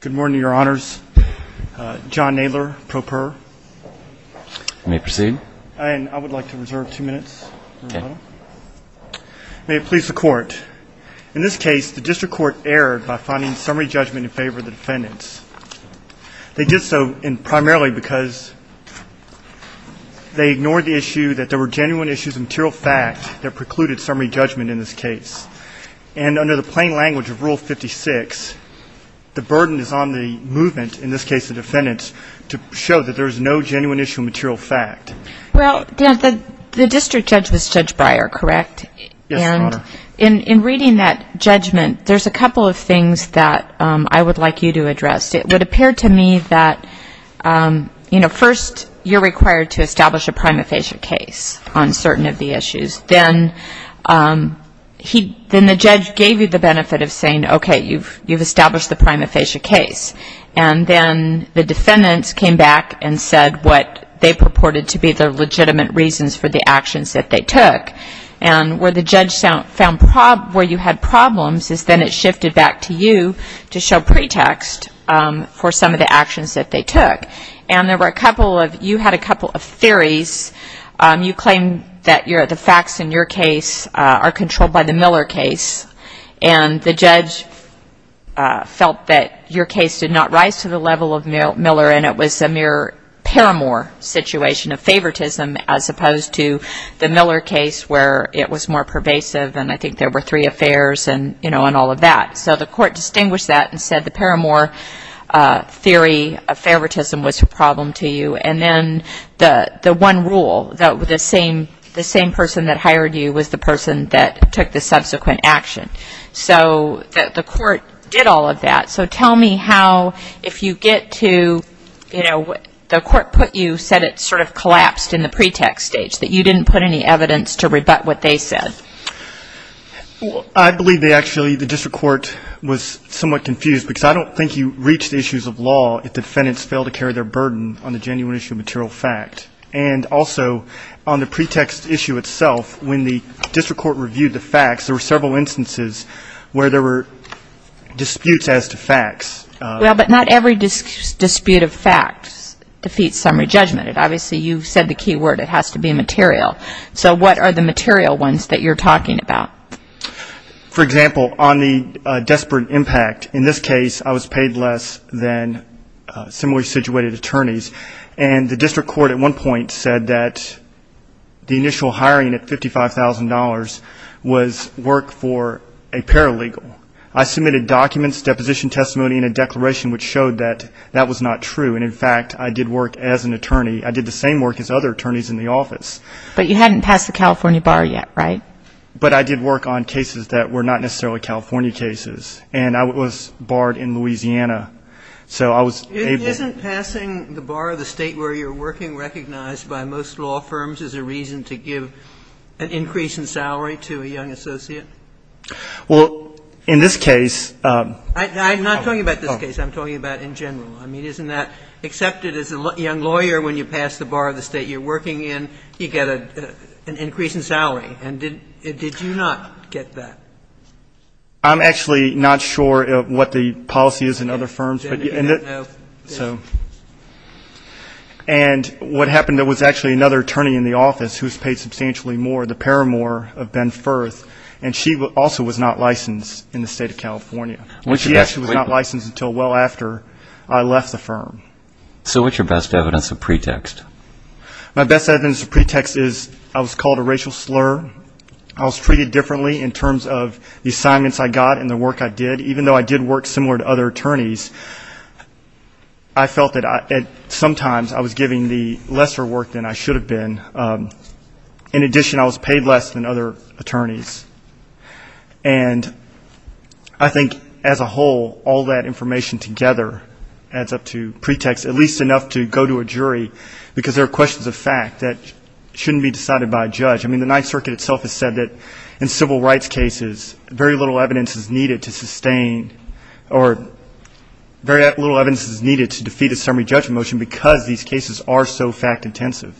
Good morning, your honors. John Nadler, pro per. May I proceed? I would like to reserve two minutes. May it please the court. In this case, the district court erred by finding summary judgment in favor of the defendants. They did so primarily because they ignored the issue that there were genuine issues of material fact that precluded summary judgment in favor of the defendants. And under the plain language of rule 56, the burden is on the movement, in this case the defendants, to show that there is no genuine issue of material fact. Well, the district judge was Judge Breyer, correct? Yes, your honor. And in reading that judgment, there's a couple of things that I would like you to address. It would appear to me that, you know, first, you're required to establish a prima facie case on certain of the issues. Then the judge gave you the benefit of saying, okay, you've established the prima facie case. And then the defendants came back and said what they purported to be the legitimate reasons for the actions that they took. And where the judge found where you had problems is then it shifted back to you to show pretext for some of the actions that they took. And there were a couple of, you had a couple of theories. You claim that the facts in your case are controlled by the Miller case. And the judge felt that your case did not rise to the level of Miller and it was a mere paramour situation of favoritism as opposed to the Miller case where it was more pervasive and I think there were three affairs and, you know, and all of that. So the court distinguished that and said the paramour theory of favoritism was a problem to you. And then the one rule, the same person that hired you was the person that took the subsequent action. So the court did all of that. So tell me how, if you get to, you know, the court put you, said it sort of collapsed in the pretext stage, that you didn't put any evidence to rebut what they said. Well, I believe they actually, the district court was somewhat confused because I don't think you reached the issues of law if defendants fail to carry their burden on the genuine issue of material fact. And also on the pretext issue itself, when the district court reviewed the facts, there were several instances where there were disputes as to facts. Well, but not every dispute of facts defeats summary judgment. Obviously you said the key word, it has to be material. So what are the material ones that you're talking about? For example, on the desperate impact, in this case I was paid less than similarly situated attorneys. And the district court at one point said that the initial hiring at $55,000 was work for a paralegal. I submitted documents, deposition testimony and a declaration which showed that that was not true. And in fact, I did work as an attorney. I did the same work as other attorneys in the office. But you hadn't passed the California bar yet, right? Right. But I did work on cases that were not necessarily California cases. And I was barred in Louisiana. So I was able to do that. Isn't passing the bar of the State where you're working recognized by most law firms as a reason to give an increase in salary to a young associate? Well, in this case. I'm not talking about this case. I'm talking about in general. I mean, isn't that accepted as a young lawyer when you pass the bar of the State you're working in, you get an increase in salary? And did you not get that? I'm actually not sure what the policy is in other firms. And what happened, there was actually another attorney in the office who was paid substantially more, the paramour of Ben Firth, and she also was not licensed in the State of California. She actually was not licensed until well after I left the firm. So what's your best evidence of pretext? My best evidence of pretext is I was called a racial slur. I was treated differently in terms of the assignments I got and the work I did, even though I did work similar to other attorneys. I felt that sometimes I was giving the lesser work than I should have been. In addition, I was paid less than other attorneys. And I think as a whole, all that information together adds up to pretext, at least enough to go to a jury, because there are questions of fact that shouldn't be decided by a judge. I mean, the Ninth Circuit itself has said that in civil rights cases, very little evidence is needed to sustain or very little evidence is needed to defeat a summary judgment motion, because these cases are so fact-intensive.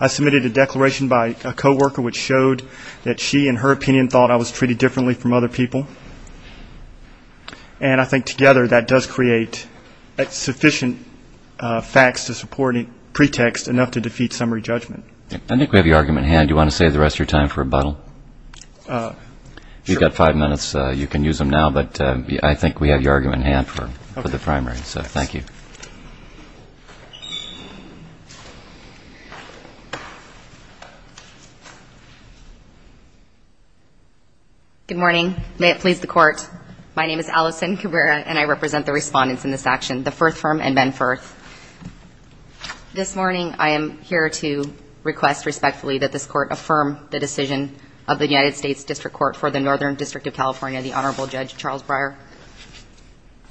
I submitted a declaration by a coworker which showed that she, in her opinion, thought I was treated differently from other people. And I think together that does create sufficient facts to support pretext enough to defeat summary judgment. I think we have your argument in hand. Do you want to save the rest of your time for rebuttal? You've got five minutes. You can use them now, but I think we have your argument in hand for the primary. So thank you. Good morning. May it please the Court. My name is Allison Cabrera, and I represent the respondents in this action, the Firth Firm and Ben Firth. This morning I am here to request respectfully that this Court affirm the decision of the United States District Court for the Northern District of California, the Honorable Judge Charles Breyer.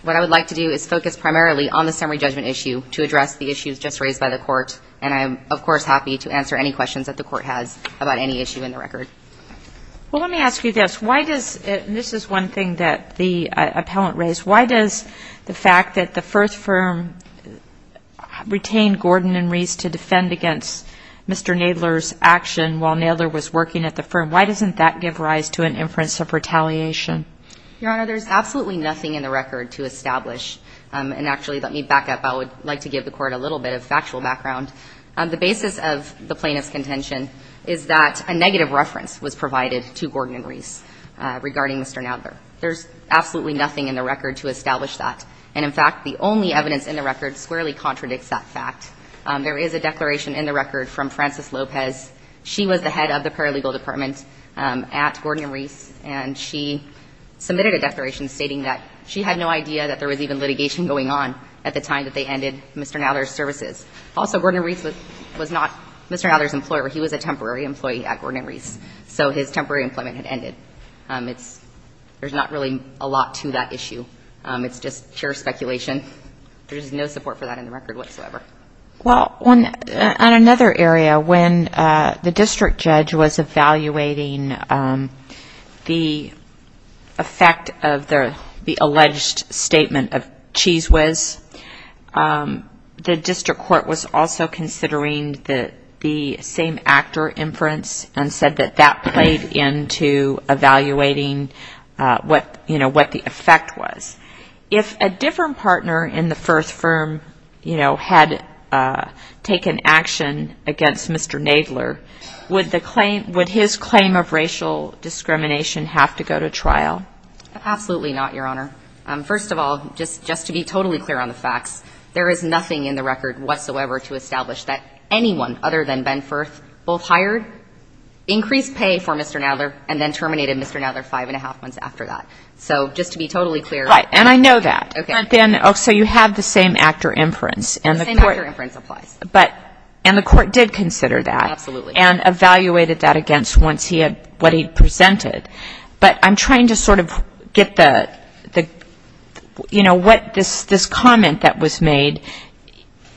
What I would like to do is focus primarily on the summary judgment issue to address the issues just raised by the Court, and I am, of course, happy to answer any questions that the Court has about any issue in the record. Well, let me ask you this. Why does it – and this is one thing that the appellant raised – why does the fact that the Firth Firm retained Gordon and Reese to defend against Mr. Nadler's action while Nadler was working at the firm, why doesn't that give rise to an inference of retaliation? Your Honor, there's absolutely nothing in the record to establish – and actually, let me back up. I would like to give the Court a little bit of factual background. The basis of the plaintiff's contention is that a negative reference was provided to Gordon and Reese regarding Mr. Nadler. There's absolutely nothing in the record to establish that. And, in fact, the only evidence in the record squarely contradicts that fact. There is a declaration in the record from Frances Lopez. She was the head of the paralegal department at Gordon and Reese, and she submitted a declaration stating that she had no idea that there was even litigation going on at the time that they ended Mr. Nadler's services. Also, Gordon and Reese was not Mr. Nadler's employer. He was a temporary employee at Gordon and Reese, so his temporary employment had ended. It's – there's not really a lot to that issue. It's just pure speculation. There's no support for that in the record whatsoever. Well, on another area, when the district judge was evaluating the effect of the alleged statement of cheese whiz, the district court was also considering the same actor inference and said that that played into evaluating what the effect was. If a different partner in the Firth firm, you know, had taken action against Mr. Nadler, would the claim – would his claim of racial discrimination have to go to trial? Absolutely not, Your Honor. First of all, just to be totally clear on the facts, there is nothing in the record whatsoever to establish that anyone other than Ben Firth both hired, increased pay for Mr. Nadler, and then terminated Mr. Nadler five and a half months after that. So just to be totally clear. Right. And I know that. Okay. So you have the same actor inference. The same actor inference applies. And the court did consider that. Absolutely. And evaluated that against what he presented. But I'm trying to sort of get the – you know, what this comment that was made,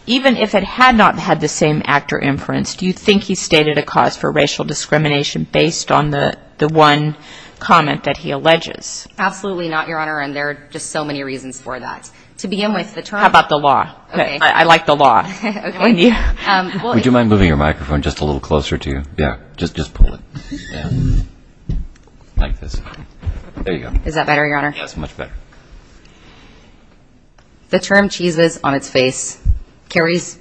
even if it had not had the same actor inference, do you think he stated a cause for racial discrimination based on the one comment that he alleges? Absolutely not, Your Honor. And there are just so many reasons for that. To begin with, the term – How about the law? Okay. I like the law. Okay. Would you mind moving your microphone just a little closer to you? Yeah. Just pull it down like this. There you go. Is that better, Your Honor? That's much better. The term cheeses on its face carries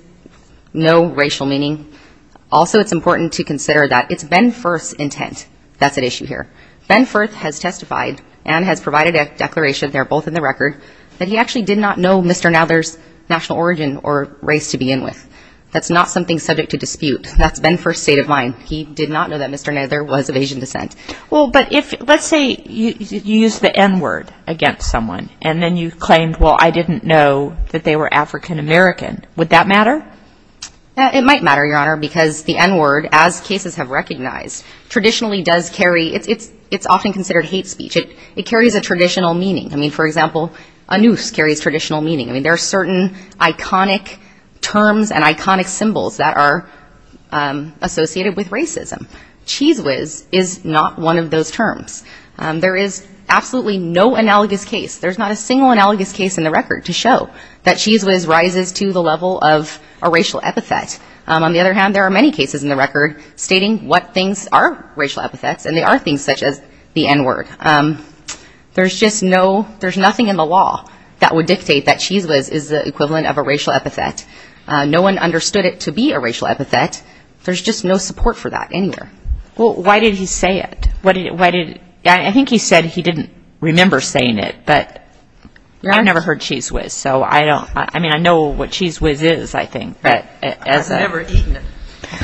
no racial meaning. Also, it's important to consider that it's Ben Firth's intent that's at issue here. Ben Firth has testified and has provided a declaration – they're both in the record – that he actually did not know Mr. Nadler's national origin or race to begin with. That's not something subject to dispute. That's Ben Firth's state of mind. He did not know that Mr. Nadler was of Asian descent. Well, but let's say you use the N-word against someone, and then you claimed, well, I didn't know that they were African American. Would that matter? It might matter, Your Honor, because the N-word, as cases have recognized, traditionally does carry – it's often considered hate speech. It carries a traditional meaning. I mean, for example, a noose carries traditional meaning. I mean, there are certain iconic terms and iconic symbols that are associated with racism. Cheese whiz is not one of those terms. There is absolutely no analogous case – there's not a single analogous case in the record to show that cheese whiz rises to the level of a racial epithet. On the other hand, there are many cases in the record stating what things are racial epithets, and they are things such as the N-word. There's just no – there's nothing in the law that would dictate that cheese whiz is the equivalent of a racial epithet. No one understood it to be a racial epithet. There's just no support for that anywhere. Well, why did he say it? Why did – I think he said he didn't remember saying it, but I've never heard cheese whiz, so I don't – I mean, I know what cheese whiz is, I think. I've never eaten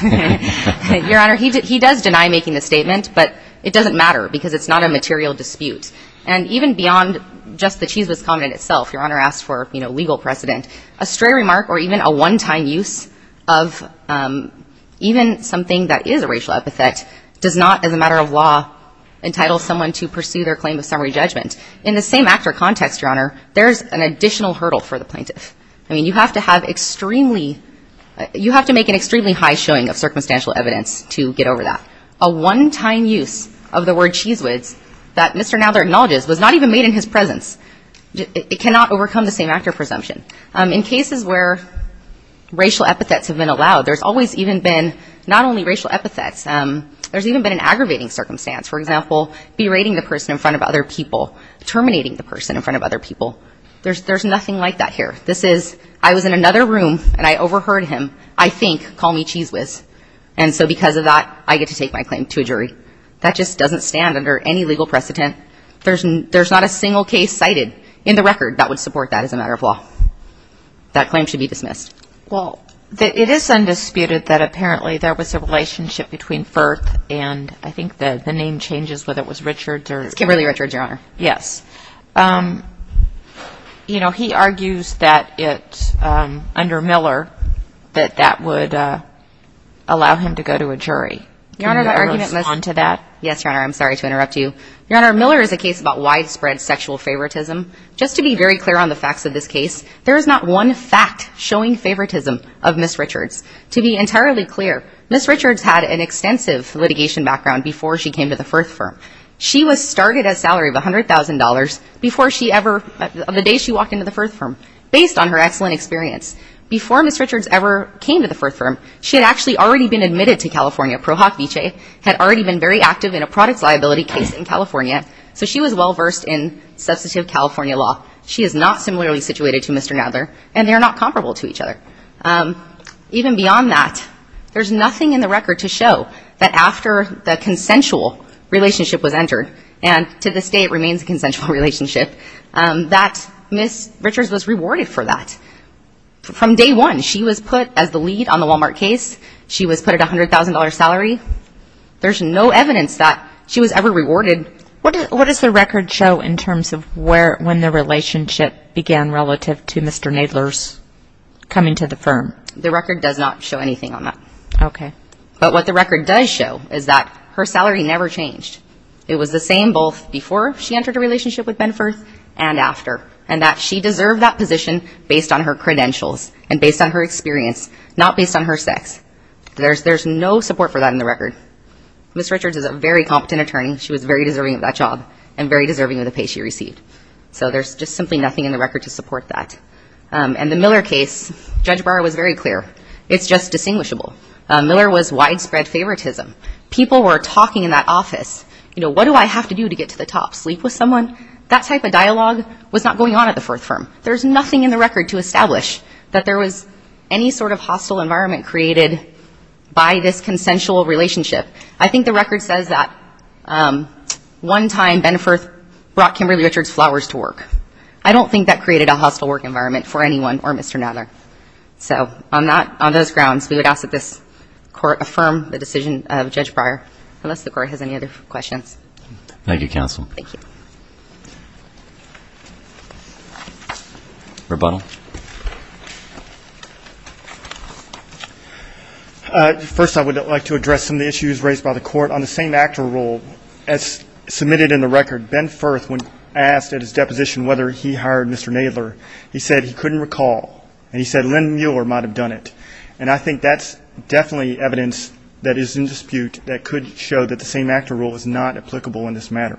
it. Your Honor, he does deny making the statement, but it doesn't matter because it's not a material dispute. And even beyond just the cheese whiz comment itself, Your Honor asked for, you know, legal precedent, a stray remark or even a one-time use of even something that is a racial epithet does not, as a matter of law, entitle someone to pursue their claim of summary judgment. In the same actor context, Your Honor, there's an additional hurdle for the plaintiff. I mean, you have to have extremely – you have to make an extremely high showing of circumstantial evidence to get over that. A one-time use of the word cheese whiz that Mr. Nadler acknowledges was not even made in his presence. It cannot overcome the same actor presumption. In cases where racial epithets have been allowed, there's always even been not only racial epithets, there's even been an aggravating circumstance. For example, berating the person in front of other people, terminating the person in front of other people. There's nothing like that here. This is, I was in another room and I overheard him, I think, call me cheese whiz, and so because of that, I get to take my claim to a jury. That just doesn't stand under any legal precedent. There's not a single case cited in the record that would support that as a matter of law. That claim should be dismissed. Well, it is undisputed that apparently there was a relationship between Firth and I think the name changes, whether it was Richards or – Kimberly Richards, Your Honor. Yes. You know, he argues that it's under Miller that that would allow him to go to a jury. Your Honor, that argument – Can you respond to that? Yes, Your Honor. I'm sorry to interrupt you. Your Honor, Miller is a case about widespread sexual favoritism. Just to be very clear on the facts of this case, there is not one fact showing favoritism of Ms. Richards. To be entirely clear, Ms. Richards had an extensive litigation background before she came to the Firth firm. She was started at a salary of $100,000 before she ever – the day she walked into the Firth firm, based on her excellent experience. Before Ms. Richards ever came to the Firth firm, she had actually already been admitted to California. had already been very active in a products liability case in California, so she was well-versed in substantive California law. She is not similarly situated to Mr. Nadler, and they are not comparable to each other. Even beyond that, there's nothing in the record to show that after the consensual relationship was entered, and to this day it remains a consensual relationship, that Ms. Richards was rewarded for that. From day one, she was put as the lead on the Walmart case. She was put at a $100,000 salary. There's no evidence that she was ever rewarded. What does the record show in terms of when the relationship began relative to Mr. Nadler's coming to the firm? The record does not show anything on that. Okay. But what the record does show is that her salary never changed. It was the same both before she entered a relationship with Ben Firth and after, and that she deserved that position based on her credentials and based on her experience, not based on her sex. There's no support for that in the record. Ms. Richards is a very competent attorney. She was very deserving of that job and very deserving of the pay she received. So there's just simply nothing in the record to support that. And the Miller case, Judge Barr was very clear. It's just distinguishable. Miller was widespread favoritism. People were talking in that office. You know, what do I have to do to get to the top? Sleep with someone? That type of dialogue was not going on at the Firth firm. There's nothing in the record to establish that there was any sort of hostile environment created by this consensual relationship. I think the record says that one time Ben Firth brought Kimberly Richards' flowers to work. I don't think that created a hostile work environment for anyone or Mr. Nadler. So on those grounds, we would ask that this Court affirm the decision of Judge Barr, unless the Court has any other questions. Thank you, Counsel. Thank you. Rebuttal. First, I would like to address some of the issues raised by the Court on the same actor role. As submitted in the record, Ben Firth, when asked at his deposition whether he hired Mr. Nadler, he said he couldn't recall. And he said Len Miller might have done it. And I think that's definitely evidence that is in dispute that could show that the same actor role is not applicable in this matter.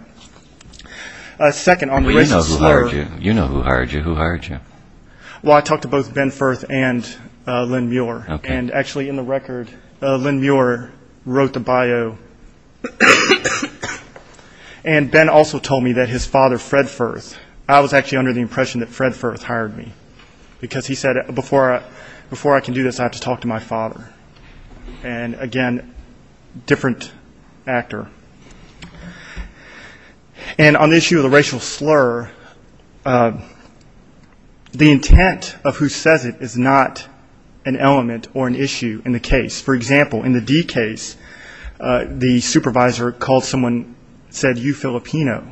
Second, on the racist slur. Well, you know who hired you. You know who hired you. Who hired you? Well, I talked to both Ben Firth and Len Muir. Okay. And actually, in the record, Len Muir wrote the bio. And Ben also told me that his father, Fred Firth, I was actually under the impression that Fred Firth hired me. Because he said before I can do this, I have to talk to my father. And, again, different actor. And on the issue of the racial slur, the intent of who says it is not an element or an issue in the case. For example, in the D case, the supervisor called someone and said, you Filipino.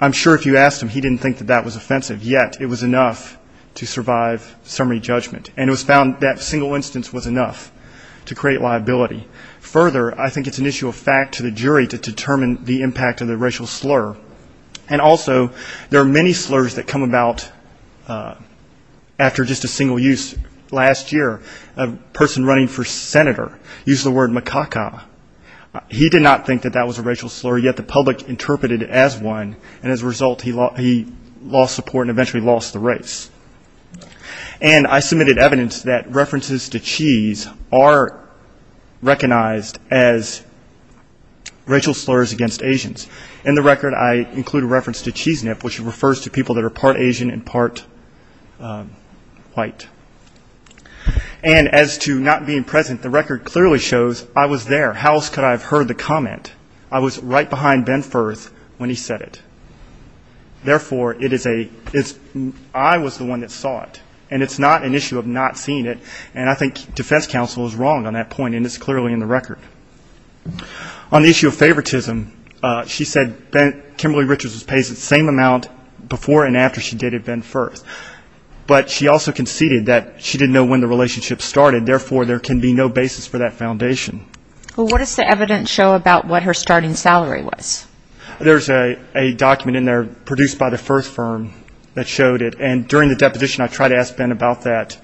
I'm sure if you asked him, he didn't think that that was offensive. Yet, it was enough to survive summary judgment. And it was found that single instance was enough to create liability. Further, I think it's an issue of fact to the jury to determine the impact of the racial slur. And also, there are many slurs that come about after just a single use. Last year, a person running for senator used the word macaca. He did not think that that was a racial slur. Yet, the public interpreted it as one. And as a result, he lost support and eventually lost the race. And I submitted evidence that references to cheese are recognized as racial slurs against Asians. In the record, I include a reference to cheese nip, which refers to people that are part Asian and part white. And as to not being present, the record clearly shows I was there. How else could I have heard the comment? I was right behind Ben Firth when he said it. Therefore, I was the one that saw it. And it's not an issue of not seeing it. And I think defense counsel is wrong on that point, and it's clearly in the record. On the issue of favoritism, she said Kimberly Richards was paid the same amount before and after she dated Ben Firth. But she also conceded that she didn't know when the relationship started. Therefore, there can be no basis for that foundation. Well, what does the evidence show about what her starting salary was? There's a document in there produced by the Firth firm that showed it. And during the deposition, I tried to ask Ben about that.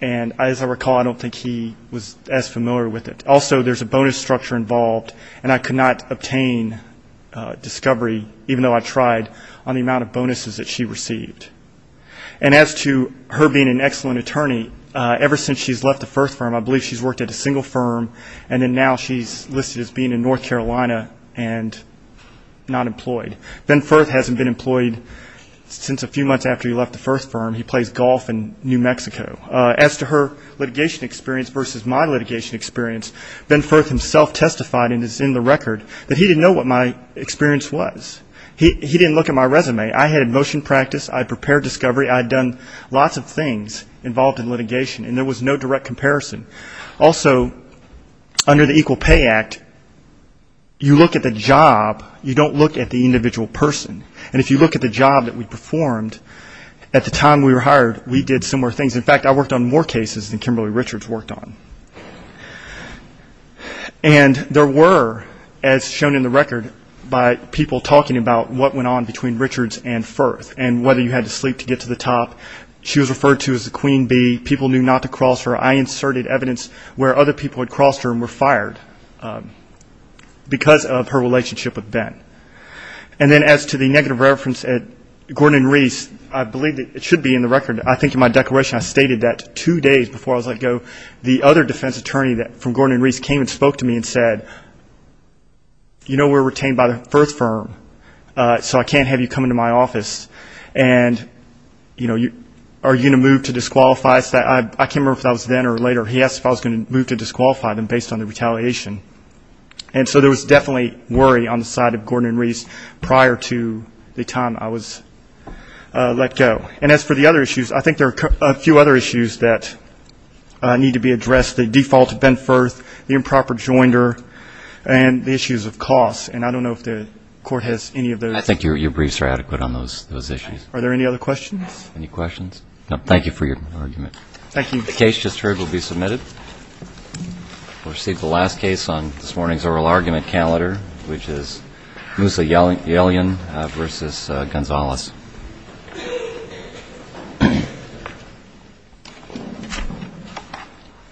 And as I recall, I don't think he was as familiar with it. Also, there's a bonus structure involved, and I could not obtain discovery, even though I tried, on the amount of bonuses that she received. And as to her being an excellent attorney, ever since she's left the Firth firm, I believe she's worked at a single firm, and then now she's listed as being in North Carolina and not employed. Ben Firth hasn't been employed since a few months after he left the Firth firm. He plays golf in New Mexico. As to her litigation experience versus my litigation experience, Ben Firth himself testified, and it's in the record, that he didn't know what my experience was. He didn't look at my resume. I had motion practice. I had prepared discovery. I had done lots of things involved in litigation, and there was no direct comparison. Also, under the Equal Pay Act, you look at the job. You don't look at the individual person. And if you look at the job that we performed, at the time we were hired, we did similar things. In fact, I worked on more cases than Kimberly Richards worked on. And there were, as shown in the record by people talking about what went on between Richards and Firth and whether you had to sleep to get to the top. She was referred to as the Queen Bee. People knew not to cross her. I inserted evidence where other people had crossed her and were fired because of her relationship with Ben. And then as to the negative reference at Gordon and Reese, I believe it should be in the record. I think in my declaration I stated that two days before I was let go, the other defense attorney from Gordon and Reese came and spoke to me and said, you know we're retained by the Firth firm, so I can't have you come into my office. And, you know, are you going to move to disqualify us? I can't remember if that was then or later. He asked if I was going to move to disqualify them based on the retaliation. And so there was definitely worry on the side of Gordon and Reese prior to the time I was let go. And as for the other issues, I think there are a few other issues that need to be addressed. The default to Ben Firth, the improper joinder, and the issues of costs. And I don't know if the Court has any of those. I think your briefs are adequate on those issues. Are there any other questions? Any questions? No. Thank you for your argument. Thank you. The case just heard will be submitted. We'll receive the last case on this morning's oral argument calendar, which is Musa Yelian v. Gonzalez. Thank you.